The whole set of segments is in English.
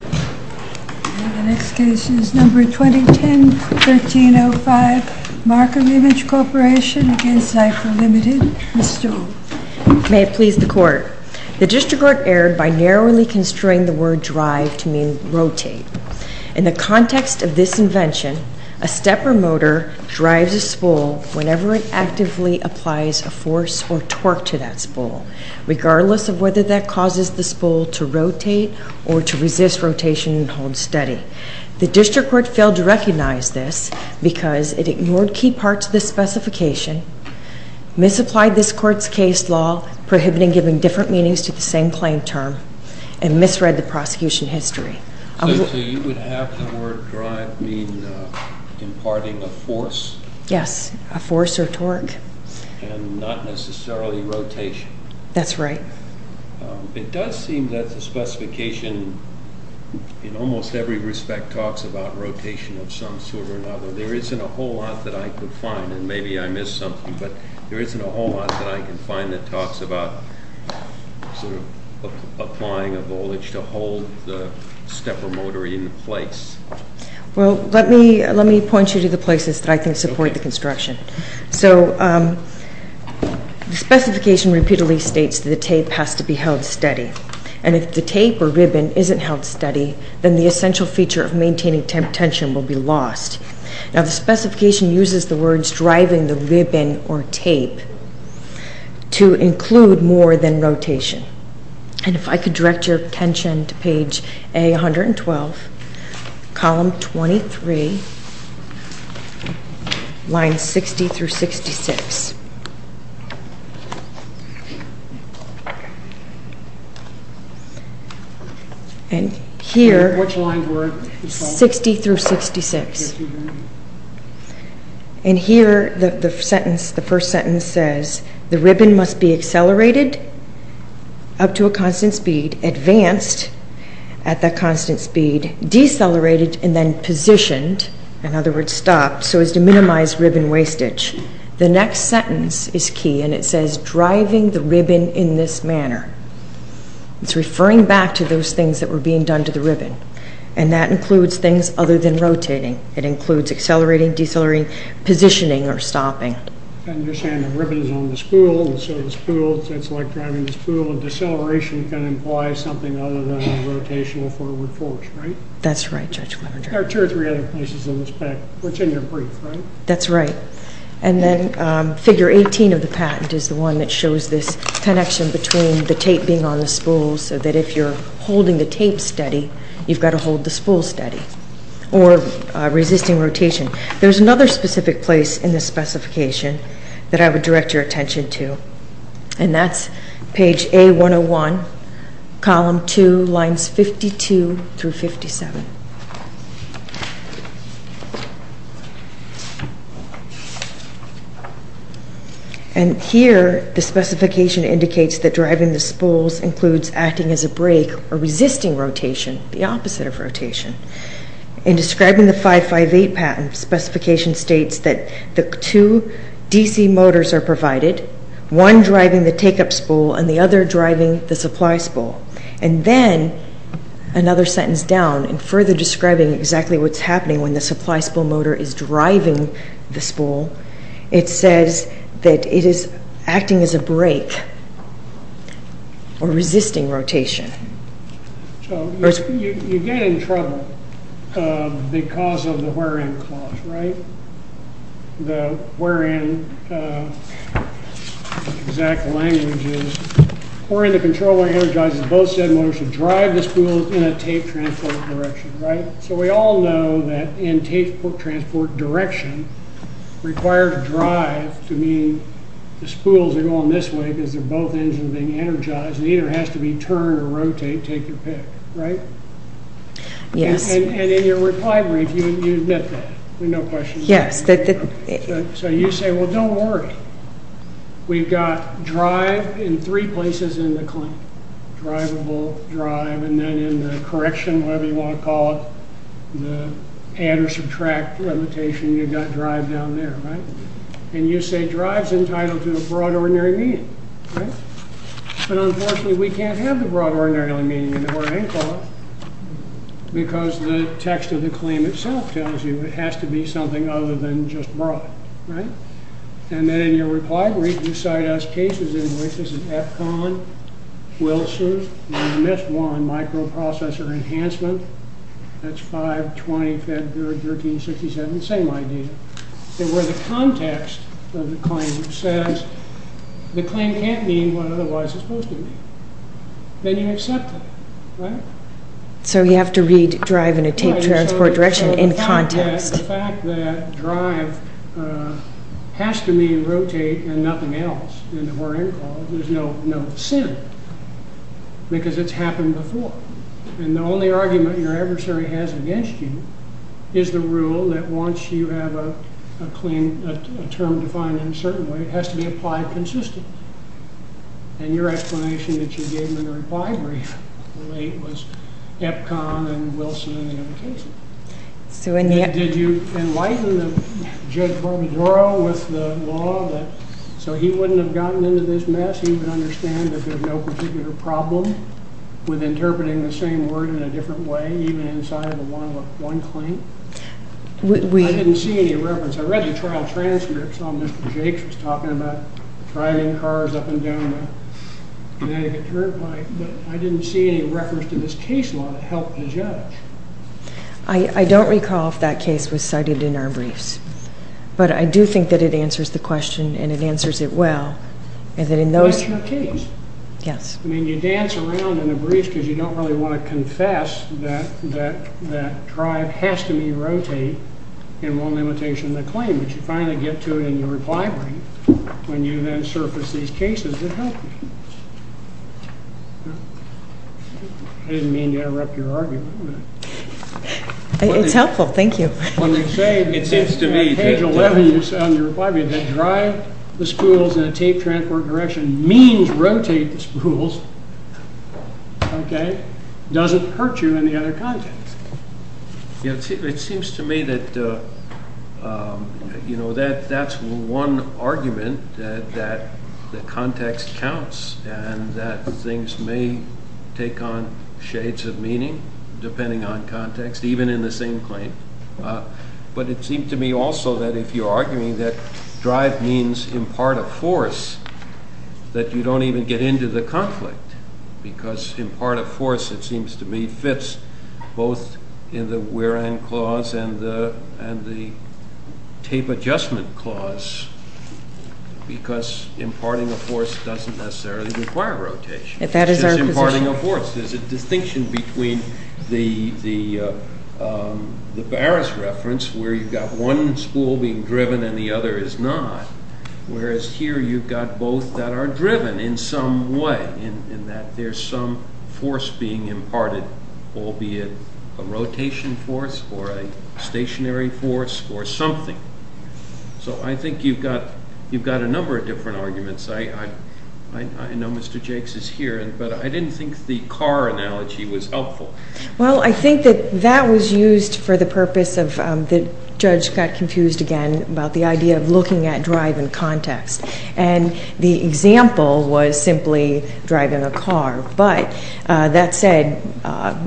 The next case is No. 2010-1305 Markem-Imaje Corporation v. Zipher Ltd. Ms. Stoll. May it please the Court. The District Court erred by narrowly constraining the word drive to mean rotate. In the context of this invention, a stepper motor drives a spool whenever it actively applies a force or torque to that spool, regardless of whether that causes the spool to rotate or to resist rotation and hold steady. The District Court failed to recognize this because it ignored key parts of the specification, misapplied this Court's case law prohibiting giving different meanings to the same claim term, and misread the prosecution history. So you would have the word drive mean imparting a force? Yes, a force or torque. And not necessarily rotation? That's right. It does seem that the specification, in almost every respect, talks about rotation of some sort or another. There isn't a whole lot that I could find, and maybe I missed something, but there isn't a whole lot that I can find that talks about applying a voltage to hold the stepper motor in place. Well, let me point you to the places that I think support the construction. So the specification repeatedly states that the tape has to be held steady. And if the tape or ribbon isn't held steady, then the essential feature of maintaining tension will be lost. Now, the specification uses the words driving the ribbon or tape to include more than rotation. And if I could direct your attention to page A112, column 23, lines 60 through 66. And here, 60 through 66. And here, the first sentence says, the ribbon must be accelerated up to a constant speed, advanced at that constant speed, decelerated, and then positioned, in other words, stopped, so as to minimize ribbon wastage. The next sentence is key, and it says driving the ribbon in this manner. It's referring back to those things that were being done to the ribbon. And that includes things other than rotating. It includes accelerating, decelerating, positioning, or stopping. And you're saying the ribbon is on the spool, and so the spool, it's like driving the spool, and deceleration can imply something other than a rotational forward force, right? That's right, Judge Levender. There are two or three other places in this patent. It's in your brief, right? That's right. And then figure 18 of the patent is the one that shows this connection between the tape being on the spool, so that if you're holding the tape steady, you've got to hold the spool steady, or resisting rotation. There's another specific place in this specification that I would direct your attention to, and that's page A101, column 2, lines 52 through 57. And here, the specification indicates that driving the spools includes acting as a brake or resisting rotation, the opposite of rotation. In describing the 558 patent, the specification states that the two DC motors are provided, one driving the take-up spool and the other driving the supply spool. And then, another sentence down, in further describing exactly what's happening when the supply spool motor is driving the spool, it says that it is acting as a brake or resisting rotation. So, you get in trouble because of the where-in clause, right? The where-in exact language is, where-in the controller energizes both said motors to drive the spools in a tape transport direction, right? So, we all know that in tape transport direction, required drive to mean the spools are going this way because they're both engines are being energized, it either has to be turn or rotate, take your pick, right? Yes. And in your reply brief, you admit that with no question. Yes. So, you say, well, don't worry. We've got drive in three places in the claim, drivable, drive, and then in the correction, whatever you want to call it, the add or subtract limitation, you've got drive down there, right? And you say drive's entitled to a broad ordinary meaning, right? But unfortunately, we can't have the broad ordinary meaning in the where-in clause because the text of the claim itself tells you it has to be something other than just broad, right? And then in your reply brief, you cite us cases in which this is AFCON, Wilson, and you missed one, microprocessor enhancement. That's 5-20-13-67, same idea. And where the context of the claim says the claim can't mean what otherwise it's supposed to mean. Then you accept it, right? So, you have to read drive in a tape transport direction in context. The fact that drive has to mean rotate and nothing else in the where-in clause, there's no sin because it's happened before. And the only argument your adversary has against you is the rule that once you have a claim, a term defined in a certain way, it has to be applied consistently. And your explanation that you gave in the reply brief was AFCON and Wilson and the other cases. Did you enlighten Judge Barbadaro with the law so he wouldn't have gotten into this mess? He would understand that there's no particular problem with interpreting the same word in a different way, even inside of one claim? I didn't see any reference. I read the trial transcript, saw Mr. Jakes was talking about driving cars up and down Connecticut Turnpike, but I didn't see any reference to this case law that helped the judge. I don't recall if that case was cited in our briefs. But I do think that it answers the question and it answers it well. But it's your case. Yes. I mean, you dance around in the briefs because you don't really want to confess that drive has to be rotate in one limitation of the claim, but you finally get to it in your reply brief when you then surface these cases that help you. I didn't mean to interrupt your argument. It's helpful. Thank you. It seems to me that drive the spools in a tape transport direction means rotate the spools. Okay? It doesn't hurt you in the other context. It seems to me that that's one argument that the context counts and that things may take on shades of meaning depending on context, even in the same claim. But it seems to me also that if you're arguing that drive means impart a force, that you don't even get into the conflict because impart a force, it seems to me, fits both in the wear and clause and the tape adjustment clause because imparting a force doesn't necessarily require rotation. That is our position. It's just imparting a force. There's a distinction between the Barris reference where you've got one spool being driven and the other is not, whereas here you've got both that are driven in some way in that there's some force being imparted, albeit a rotation force or a stationary force or something. So I think you've got a number of different arguments. I know Mr. Jakes is here, but I didn't think the car analogy was helpful. Well, I think that that was used for the purpose of the judge got confused again about the idea of looking at drive in context. And the example was simply driving a car. But that said,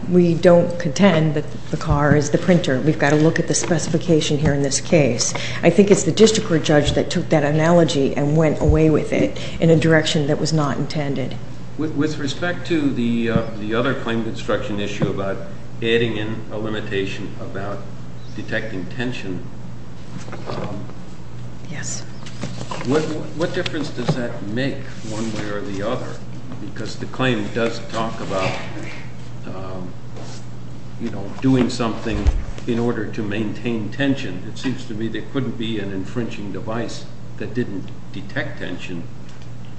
we don't contend that the car is the printer. We've got to look at the specification here in this case. I think it's the district court judge that took that analogy and went away with it in a direction that was not intended. With respect to the other claim construction issue about adding in a limitation about detecting tension, what difference does that make one way or the other? Because the claim does talk about doing something in order to maintain tension. It seems to me there couldn't be an infringing device that didn't detect tension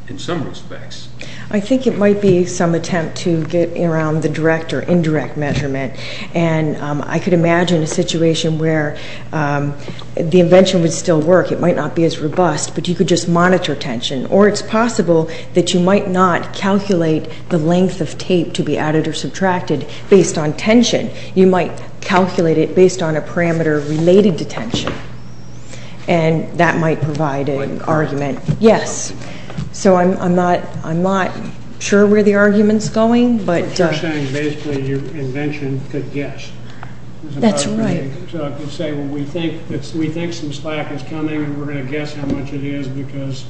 in some respects. I think it might be some attempt to get around the direct or indirect measurement. And I could imagine a situation where the invention would still work. It might not be as robust, but you could just monitor tension. Or it's possible that you might not calculate the length of tape to be added or subtracted based on tension. You might calculate it based on a parameter related to tension. And that might provide an argument. Yes. So I'm not sure where the argument's going. But you're saying basically your invention could guess. That's right. So I could say, well, we think some slack is coming, and we're going to guess how much it is because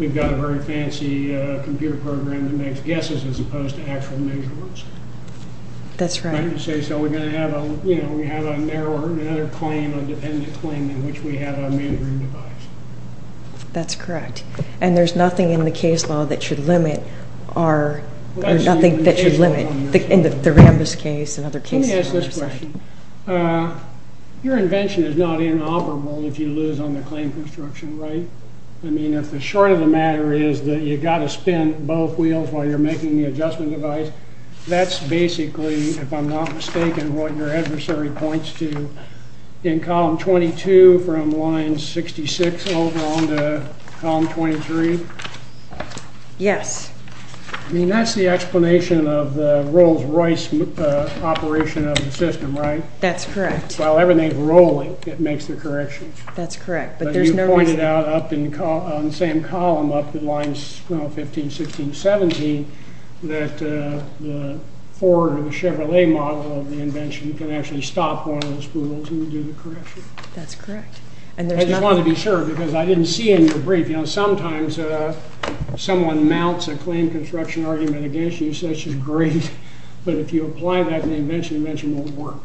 we've got a very fancy computer program that makes guesses as opposed to actual measurements. That's right. So we're going to have another claim, a dependent claim, in which we have a mandarin device. That's correct. And there's nothing in the case law that should limit our or nothing that should limit, in the Rambus case and other cases. Let me ask this question. Your invention is not inoperable if you lose on the claim construction, right? I mean, if the short of the matter is that you've got to spin both wheels while you're making the adjustment device, that's basically, if I'm not mistaken, what your adversary points to in column 22 from line 66 over on to column 23? Yes. I mean, that's the explanation of the Rolls-Royce operation of the system, right? That's correct. While everything's rolling, it makes the corrections. That's correct. But you pointed out on the same column up at line 15, 16, 17, that the Ford or the Chevrolet model of the invention can actually stop one of the spools and do the correction. That's correct. I just wanted to be sure because I didn't see in your brief, you know, sometimes someone mounts a claim construction argument against you and says she's great, but if you apply that in the invention, the invention won't work.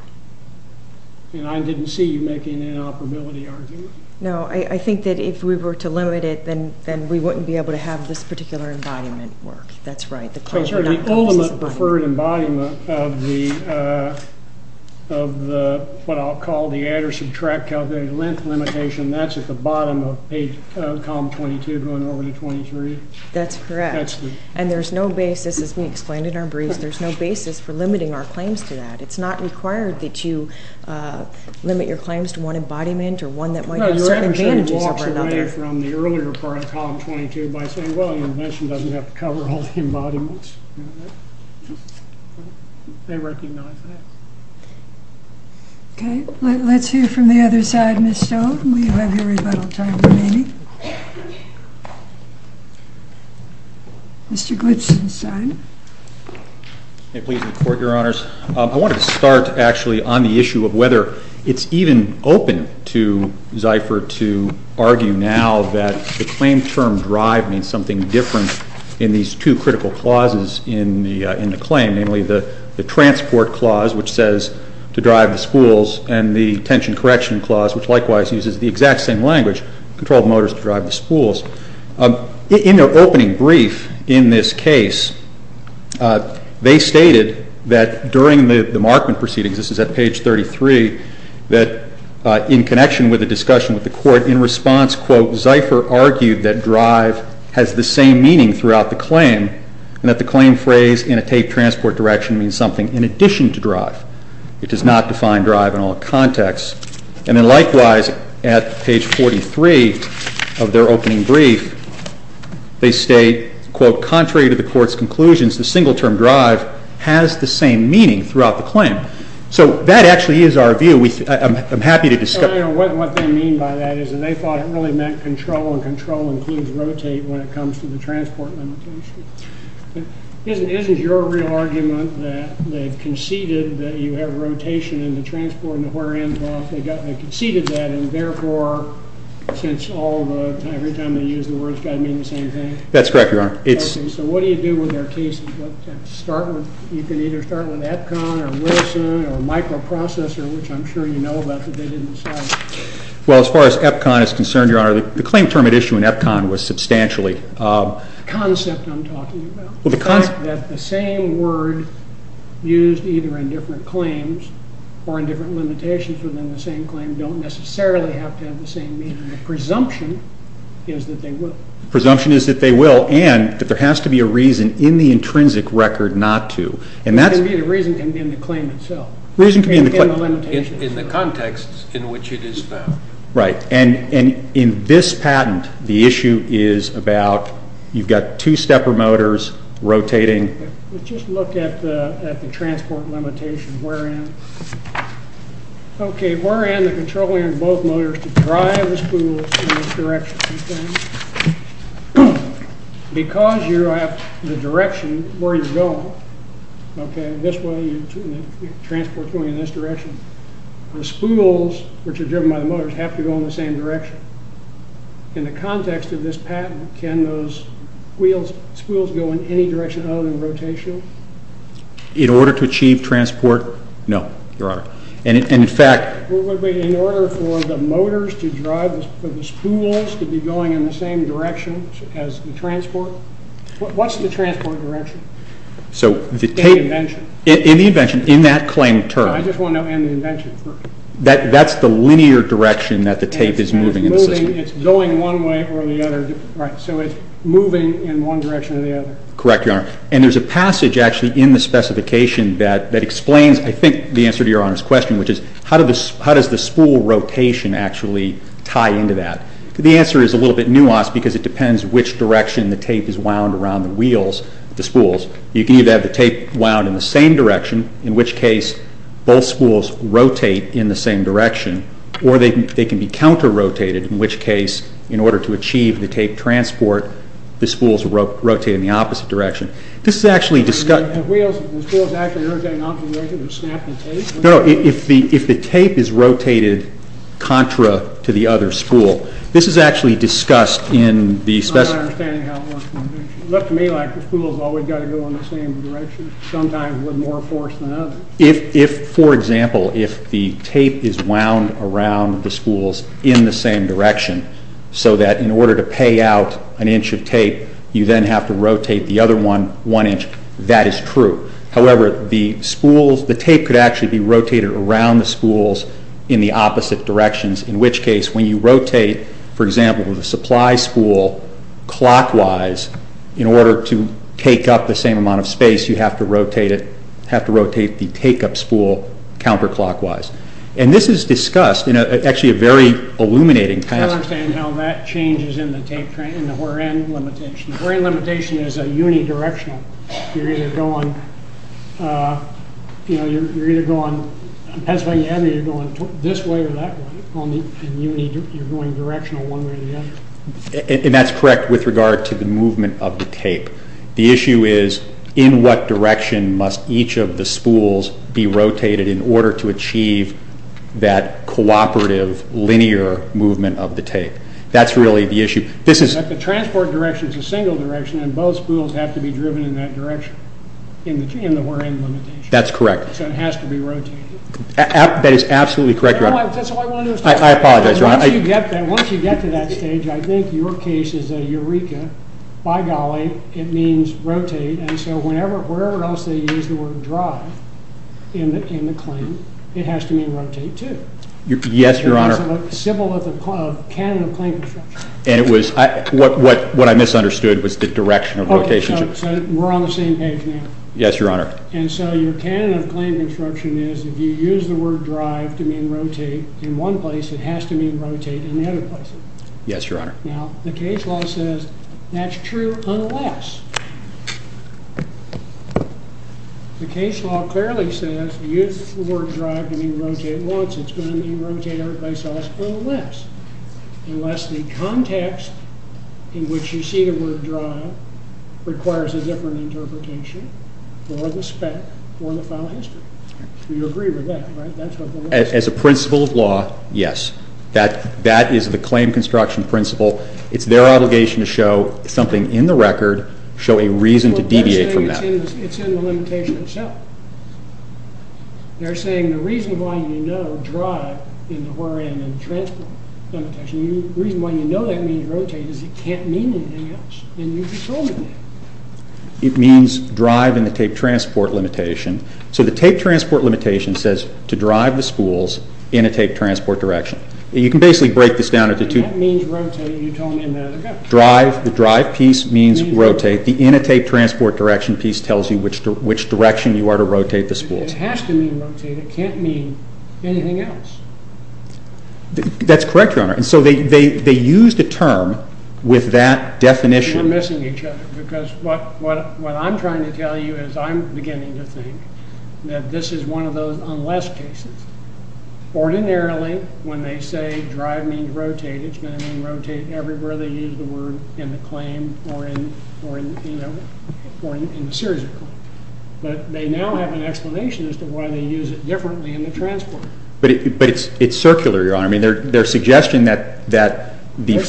And I didn't see you making an inoperability argument. No, I think that if we were to limit it, then we wouldn't be able to have this particular embodiment work. That's right. The ultimate preferred embodiment of what I'll call the add or subtract calculated length limitation, that's at the bottom of column 22 going over to 23? That's correct. And there's no basis, as we explained in our brief, there's no basis for limiting our claims to that. It's not required that you limit your claims to one embodiment or one that might have certain advantages over another. You can take away from the earlier part of column 22 by saying, well, the invention doesn't have to cover all the embodiments. They recognize that. Okay. Let's hear from the other side. Ms. Stone, we have your rebuttal time remaining. Mr. Glipsenstein. May it please the Court, Your Honors. I wanted to start actually on the issue of whether it's even open to Zypher to argue now that the claim term drive means something different in these two critical clauses in the claim, namely the transport clause, which says to drive the spools, and the tension correction clause, which likewise uses the exact same language, controlled motors to drive the spools. In their opening brief in this case, they stated that during the markment proceedings, this is at page 33, that in connection with a discussion with the Court, in response, quote, Zypher argued that drive has the same meaning throughout the claim, and that the claim phrase in a tape transport direction means something in addition to drive. It does not define drive in all contexts. And then likewise, at page 43 of their opening brief, they state, quote, contrary to the Court's conclusions, the single term drive has the same meaning throughout the claim. So that actually is our view. I'm happy to discuss. What they mean by that is that they thought it really meant control, and control includes rotate when it comes to the transport limitation. Isn't your real argument that they've conceded that you have rotation in the transport, and where it ends off, they conceded that, and therefore, since all the time, every time they use the word, it's got to mean the same thing? That's correct, Your Honor. Okay, so what do you do with their cases? You can either start with EPCON or Wilson or microprocessor, which I'm sure you know about, but they didn't decide. Well, as far as EPCON is concerned, Your Honor, the claim term at issue in EPCON was substantially. The concept I'm talking about, the fact that the same word used either in different claims or in different limitations within the same claim don't necessarily have to have the same meaning. The presumption is that they will. The presumption is that they will, and that there has to be a reason in the intrinsic record not to. The reason can be in the claim itself. The reason can be in the claim. In the context in which it is found. Right, and in this patent, the issue is about, you've got two stepper motors rotating. Let's just look at the transport limitation. Okay, we're in the controlling of both motors to drive the spool in this direction. Because you have the direction where you're going, okay, this way, you're transporting in this direction. The spools, which are driven by the motors, have to go in the same direction. In the context of this patent, can those spools go in any direction other than rotation? In order to achieve transport? No, Your Honor. And in fact. In order for the motors to drive, for the spools to be going in the same direction as the transport? What's the transport direction? So, in the invention, in that claim term. I just want to know in the invention term. That's the linear direction that the tape is moving in the system. It's going one way or the other. Right, so it's moving in one direction or the other. Correct, Your Honor. And there's a passage actually in the specification that explains, I think, the answer to Your Honor's question, which is, how does the spool rotation actually tie into that? The answer is a little bit nuanced because it depends which direction the tape is wound around the wheels, the spools. You can either have the tape wound in the same direction, in which case both spools rotate in the same direction, or they can be counter-rotated, in which case, in order to achieve the tape transport, the spools rotate in the opposite direction. This is actually discussed. And the wheels, the spools actually rotate in opposite directions or snap the tape? No, if the tape is rotated contra to the other spool. This is actually discussed in the specification. I'm not understanding how it works. It looked to me like the spools always got to go in the same direction. Sometimes with more force than others. If, for example, if the tape is wound around the spools in the same direction, so that in order to pay out an inch of tape, you then have to rotate the other one one inch, that is true. However, the spools, the tape could actually be rotated around the spools in the opposite directions, in which case when you rotate, for example, the supply spool clockwise, in order to take up the same amount of space, you have to rotate it, have to rotate the take-up spool counter-clockwise. And this is discussed in actually a very illuminating kind of... I don't understand how that changes in the tape, in the wear-in limitation. Wear-in limitation is a unidirectional. You're either going on Pennsylvania Avenue, you're going this way or that way, and you're going directional one way or the other. And that's correct with regard to the movement of the tape. The issue is in what direction must each of the spools be rotated in order to achieve that cooperative, linear movement of the tape. That's really the issue. The transport direction is a single direction, and both spools have to be driven in that direction in the wear-in limitation. That's correct. So it has to be rotated. That is absolutely correct, Your Honor. That's all I wanted to say. I apologize, Your Honor. Once you get to that stage, I think your case is a eureka. By golly, it means rotate, and so wherever else they use the word drive in the claim, it has to mean rotate, too. Yes, Your Honor. It's a symbol of the canon of claim construction. What I misunderstood was the direction of rotation. Okay, so we're on the same page now. Yes, Your Honor. And so your canon of claim construction is if you use the word drive to mean rotate in one place, it has to mean rotate in the other places. Yes, Your Honor. Now, the case law says that's true unless the case law clearly says if you use the word drive to mean rotate once, it's going to mean rotate every place else, unless the context in which you see the word drive requires a different interpretation for the spec or the file history. You agree with that, right? As a principle of law, yes. That is the claim construction principle. It's their obligation to show something in the record, show a reason to deviate from that. It's in the limitation itself. They're saying the reason why you know drive in the where in the transport limitation, the reason why you know that means rotate is it can't mean anything else. And you told me that. It means drive in the tape transport limitation. So the tape transport limitation says to drive the spools in a tape transport direction. You can basically break this down into two. That means rotate. You told me that ago. The drive piece means rotate. The in a tape transport direction piece tells you which direction you are to rotate the spools. It has to mean rotate. It can't mean anything else. That's correct, Your Honor. And so they used a term with that definition. We're missing each other because what I'm trying to tell you is I'm beginning to think that this is one of those unless cases. Ordinarily, when they say drive means rotate, it's going to mean rotate everywhere they use the word in the claim or in the series of claims. But they now have an explanation as to why they use it differently in the transport. But it's circular, Your Honor. I mean, their suggestion that the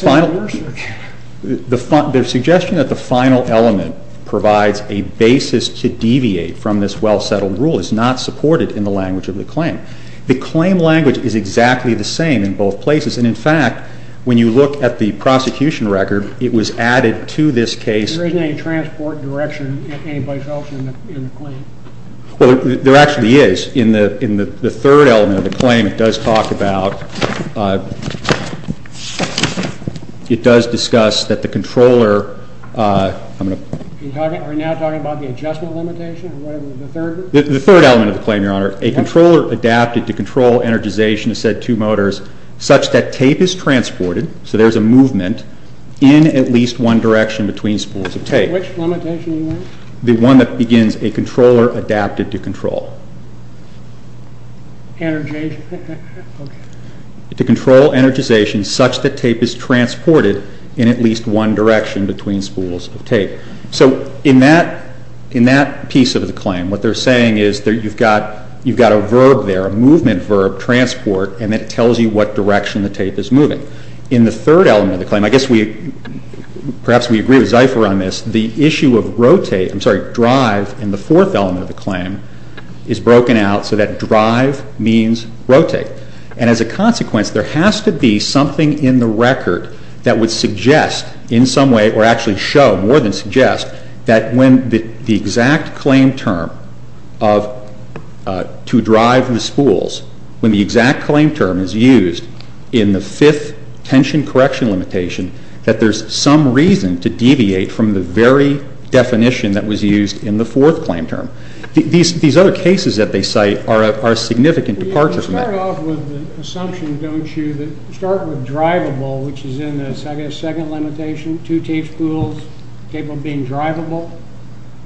final element provides a basis to deviate from this well-settled rule is not supported in the language of the claim. The claim language is exactly the same in both places. And, in fact, when you look at the prosecution record, it was added to this case. There isn't any transport direction in any place else in the claim. Well, there actually is. In the third element of the claim, it does talk about it does discuss that the controller. Are you now talking about the adjustment limitation or whatever? The third element of the claim, Your Honor. A controller adapted to control energization of said two motors such that tape is transported. So there's a movement in at least one direction between spools of tape. Which limitation, Your Honor? The one that begins a controller adapted to control. Energization. To control energization such that tape is transported in at least one direction between spools of tape. So in that piece of the claim, what they're saying is that you've got a verb there, a movement verb, transport, and it tells you what direction the tape is moving. In the third element of the claim, I guess perhaps we agree with Zypher on this. The issue of drive in the fourth element of the claim is broken out so that drive means rotate. And as a consequence, there has to be something in the record that would suggest in some way or actually show more than suggest that when the exact claim term of to drive the spools, when the exact claim term is used in the fifth tension correction limitation, that there's some reason to deviate from the very definition that was used in the fourth claim term. These other cases that they cite are a significant departure from that. You start off with the assumption, don't you, that you start with drivable, which is in the second limitation, two tape spools capable of being drivable.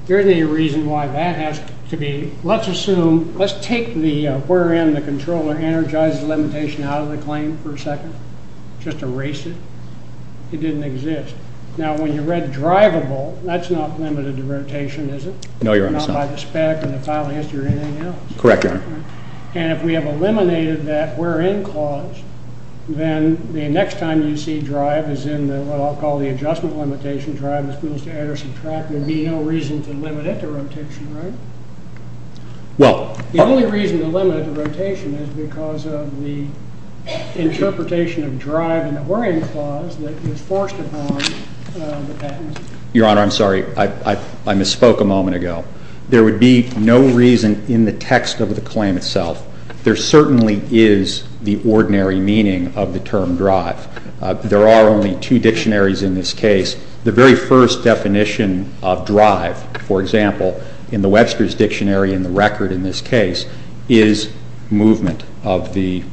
There isn't any reason why that has to be. Let's assume, let's take the wherein the controller energizes the limitation out of the claim for a second. Just erase it. It didn't exist. Now when you read drivable, that's not limited to rotation, is it? No, Your Honor. Not by the spec or the file history or anything else? Correct, Your Honor. And if we have eliminated that wherein clause, then the next time you see drive is in what I'll call the adjustment limitation, drive the spools to add or subtract, there'd be no reason to limit it to rotation, right? Well, The only reason to limit it to rotation is because of the interpretation of drive in the wherein clause that was forced upon the patent. Your Honor, I'm sorry. I misspoke a moment ago. There would be no reason in the text of the claim itself. There certainly is the ordinary meaning of the term drive. There are only two dictionaries in this case. The very first definition of drive, for example, in the Webster's Dictionary and the record in this case, is movement of the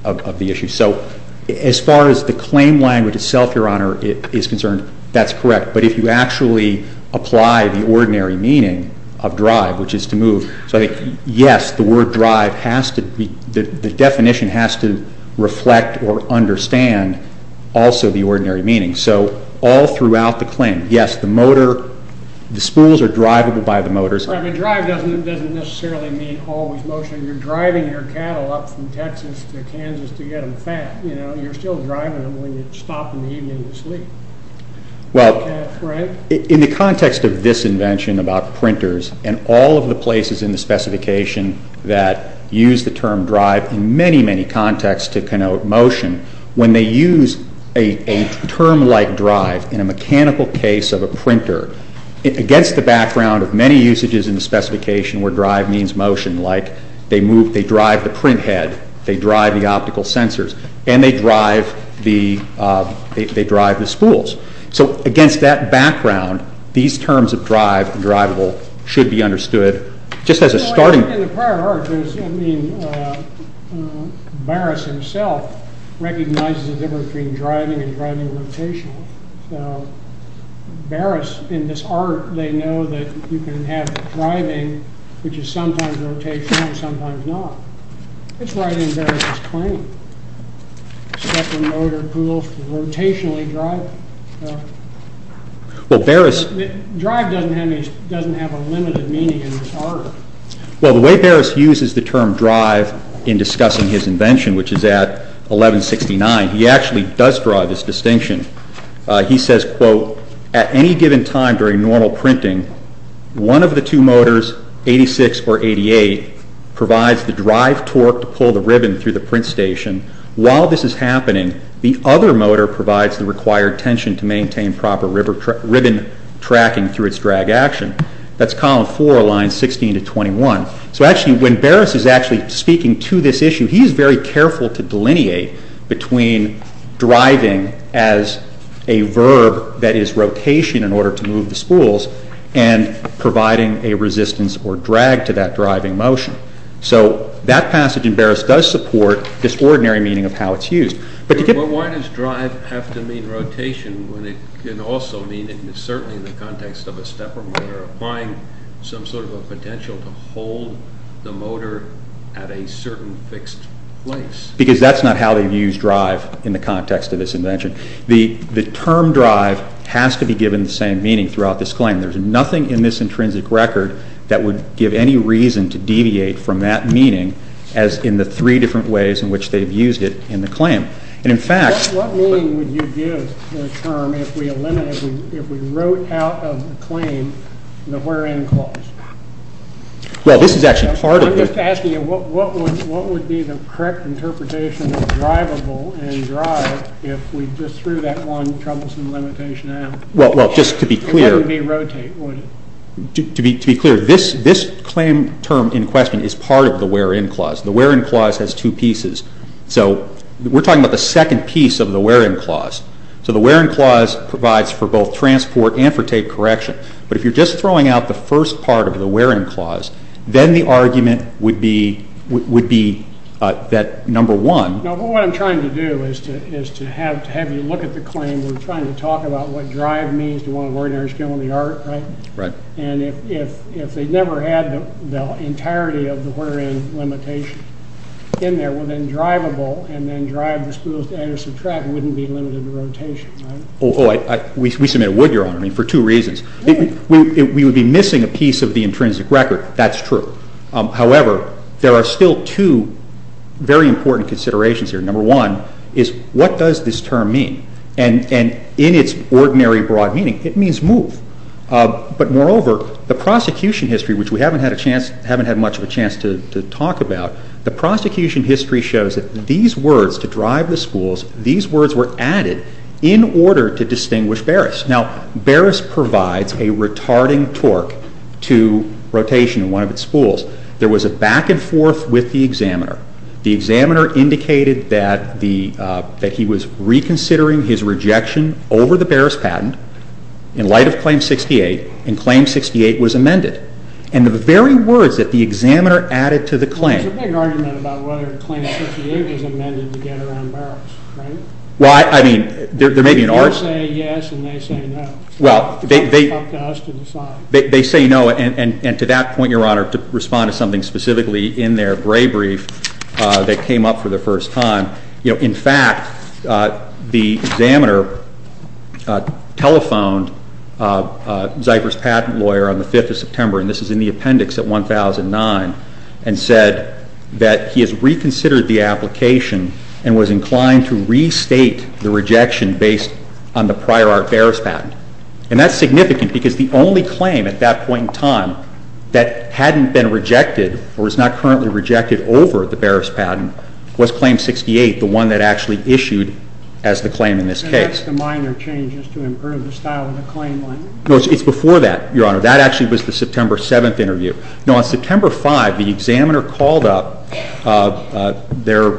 issue. So as far as the claim language itself, Your Honor, is concerned, that's correct. But if you actually apply the ordinary meaning of drive, which is to move, so yes, the word drive has to be, the definition has to reflect or understand also the ordinary meaning. So all throughout the claim, yes, the motor, the spools are drivable by the motors. Right, but drive doesn't necessarily mean always motion. You're driving your cattle up from Texas to Kansas to get them fat. You know, you're still driving them when you stop in the evening to sleep. Well, in the context of this invention about printers and all of the places in the specification that use the term drive in many, many contexts to connote motion, when they use a term like drive in a mechanical case of a printer, against the background of many usages in the specification where drive means motion, like they move, they drive the printhead, they drive the optical sensors, and they drive the spools. So against that background, these terms of drive, drivable, should be understood just as a starting point. In the prior art, Barris himself recognizes the difference between driving and driving rotational. So Barris, in this art, they know that you can have driving, which is sometimes rotational and sometimes not. It's right in Barris's claim. Except the motor pools for rotationally driving. Drive doesn't have a limited meaning in this art. Well, the way Barris uses the term drive in discussing his invention, which is at 1169, he actually does draw this distinction. He says, quote, at any given time during normal printing, one of the two motors, 86 or 88, provides the drive torque to pull the ribbon through the print station. While this is happening, the other motor provides the required tension to maintain proper ribbon tracking through its drag action. That's column 4, lines 16 to 21. So actually, when Barris is actually speaking to this issue, he's very careful to delineate between driving as a verb that is rotation in order to move the spools and providing a resistance or drag to that driving motion. So that passage in Barris does support this ordinary meaning of how it's used. But why does drive have to mean rotation when it can also mean, certainly in the context of a stepper motor, some sort of a potential to hold the motor at a certain fixed place? Because that's not how they've used drive in the context of this invention. The term drive has to be given the same meaning throughout this claim. There's nothing in this intrinsic record that would give any reason to deviate from that meaning as in the three different ways in which they've used it in the claim. What meaning would you give the term if we wrote out of the claim the where-in clause? I'm just asking you, what would be the correct interpretation of drivable and drive if we just threw that one troublesome limitation out? It wouldn't be rotate, would it? To be clear, this claim term in question is part of the where-in clause. The where-in clause has two pieces. We're talking about the second piece of the where-in clause. The where-in clause provides for both transport and for tape correction. But if you're just throwing out the first part of the where-in clause, then the argument would be that, number one— No, but what I'm trying to do is to have you look at the claim. We're trying to talk about what drive means to one of ordinary skill in the art, right? And if they never had the entirety of the where-in limitation in there, well, then drivable and then drive the schools to add or subtract wouldn't be limited to rotation, right? Oh, we submitted Wood, Your Honor, for two reasons. We would be missing a piece of the intrinsic record. That's true. However, there are still two very important considerations here. Number one is what does this term mean? And in its ordinary broad meaning, it means move. But moreover, the prosecution history, which we haven't had much of a chance to talk about, the prosecution history shows that these words, to drive the schools, these words were added in order to distinguish Barris. Now, Barris provides a retarding torque to rotation in one of its schools. There was a back-and-forth with the examiner. The examiner indicated that he was reconsidering his rejection over the Barris patent in light of Claim 68, and Claim 68 was amended. And the very words that the examiner added to the claim Well, there's a big argument about whether Claim 68 is amended to get around Barris, right? Well, I mean, there may be an argument. You say yes, and they say no. Well, they say no, and to that point, Your Honor, to respond to something specifically in their gray brief that came up for the first time, you know, in fact, the examiner telephoned Zypher's patent lawyer on the 5th of September, and this is in the appendix at 1009, and said that he has reconsidered the application and was inclined to restate the rejection based on the prior-art Barris patent. And that's significant because the only claim at that point in time that hadn't been rejected or was not currently rejected over the Barris patent was Claim 68, the one that actually issued as the claim in this case. So that's the minor changes to improve the style of the claim, then? No, it's before that, Your Honor. That actually was the September 7th interview. No, on September 5th, the examiner called up their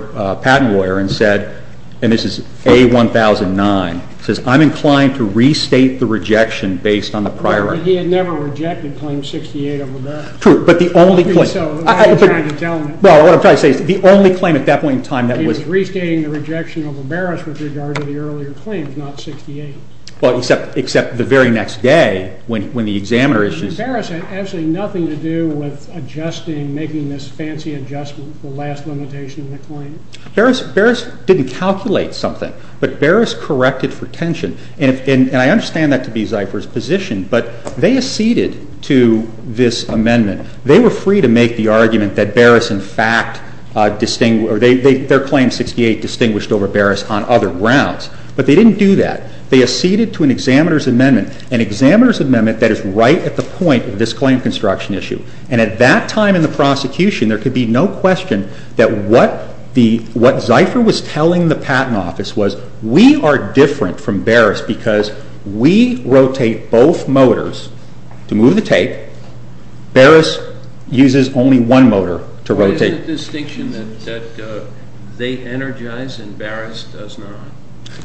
patent lawyer and said, and this is A1009, says, I'm inclined to restate the rejection based on the prior-art. But he had never rejected Claim 68 over Barris. True, but the only claim I don't think so. The only claim at that point in time that was He was restating the rejection over Barris with regard to the earlier claims, not 68. Well, except the very next day when the examiner issued Barris had absolutely nothing to do with adjusting, making this fancy adjustment to the last limitation of the claim. Barris didn't calculate something, but Barris corrected for tension. And I understand that to be Zipher's position, but they acceded to this amendment. They were free to make the argument that Barris, in fact, their Claim 68 distinguished over Barris on other grounds. But they didn't do that. They acceded to an examiner's amendment, an examiner's amendment that is right at the point of this claim construction issue. And at that time in the prosecution, there could be no question that what Zipher was telling the Patent Office was, we are different from Barris because we rotate both motors to move the tape. Barris uses only one motor to rotate. What is the distinction that they energize and Barris does not?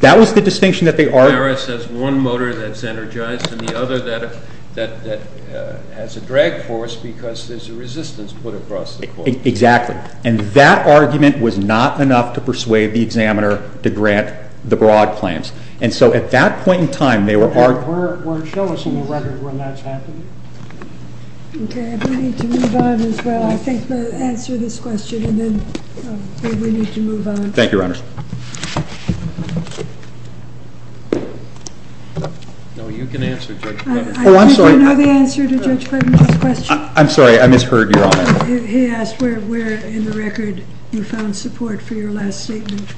That was the distinction that they argued. Barris has one motor that's energized and the other that has a drag force because there's a resistance put across the court. Exactly. And that argument was not enough to persuade the examiner to grant the broad claims. And so at that point in time, they were arguing Okay, if we need to move on as well, I think we'll answer this question and then maybe we need to move on. Thank you, Your Honor. No, you can answer, Judge. I think I know the answer to Judge Clinton's question. I'm sorry, I misheard your honor. He asked where in the record you found support for your last statement.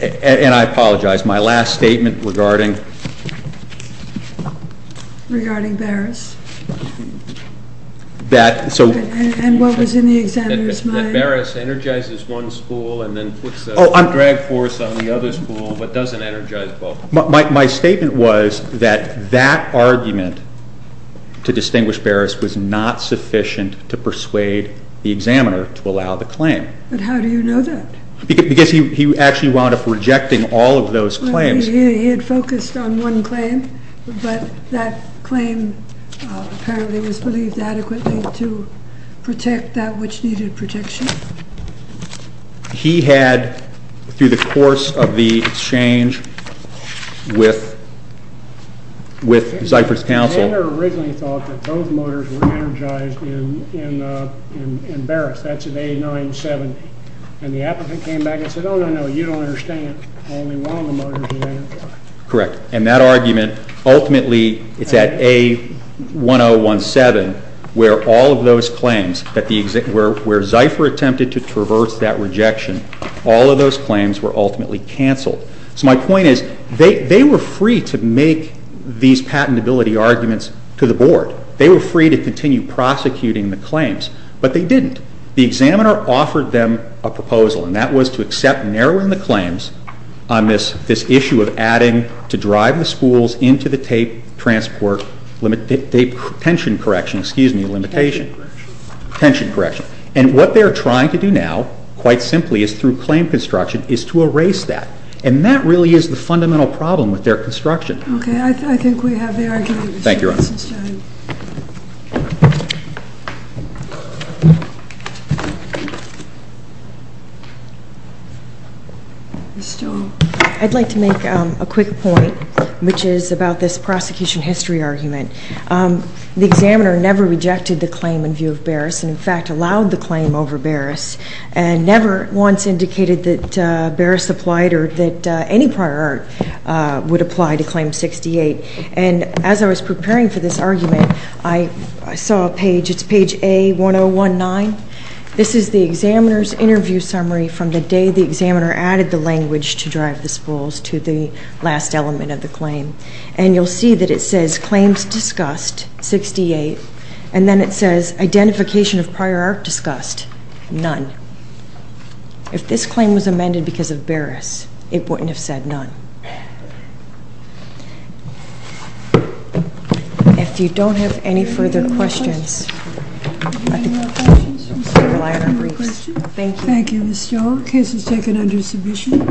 And I apologize. My last statement regarding Regarding Barris? And what was in the examiner's mind? That Barris energizes one spool and then puts a drag force on the other spool but doesn't energize both. My statement was that that argument to distinguish Barris was not sufficient to persuade the examiner to allow the claim. But how do you know that? Because he actually wound up rejecting all of those claims. He had focused on one claim, but that claim apparently was believed adequately to protect that which needed protection. He had, through the course of the exchange with Zyphert's counsel The examiner originally thought that those motors were energized in Barris. That's in A970. And the applicant came back and said, oh, no, no, you don't understand. Only one of the motors is energized. Correct. And that argument ultimately, it's at A1017, where all of those claims, where Zyphert attempted to traverse that rejection, all of those claims were ultimately canceled. So my point is, they were free to make these patentability arguments to the board. They were free to continue prosecuting the claims. But they didn't. The examiner offered them a proposal, and that was to accept narrowing the claims on this issue of adding to drive the schools into the tape transport limit, the tension correction, excuse me, limitation. Tension correction. Tension correction. And what they are trying to do now, quite simply, is through claim construction, is to erase that. And that really is the fundamental problem with their construction. Okay. I think we have the argument. Thank you, Your Honor. Ms. Stone. I'd like to make a quick point, which is about this prosecution history argument. The examiner never rejected the claim in view of Barris, and, in fact, allowed the claim over Barris, and never once indicated that Barris applied or that any prior art would apply to Claim 68. And as I was preparing for this argument, I saw a page. It's page A1019. This is the examiner's interview summary from the day the examiner added the language to drive the schools to the last element of the claim. And you'll see that it says, Claims Discussed, 68. And then it says, Identification of Prior Art Discussed, none. If this claim was amended because of Barris, it wouldn't have said none. If you don't have any further questions. Any more questions, Ms. Stone? Thank you, Ms. Stone. Case is taken under submission.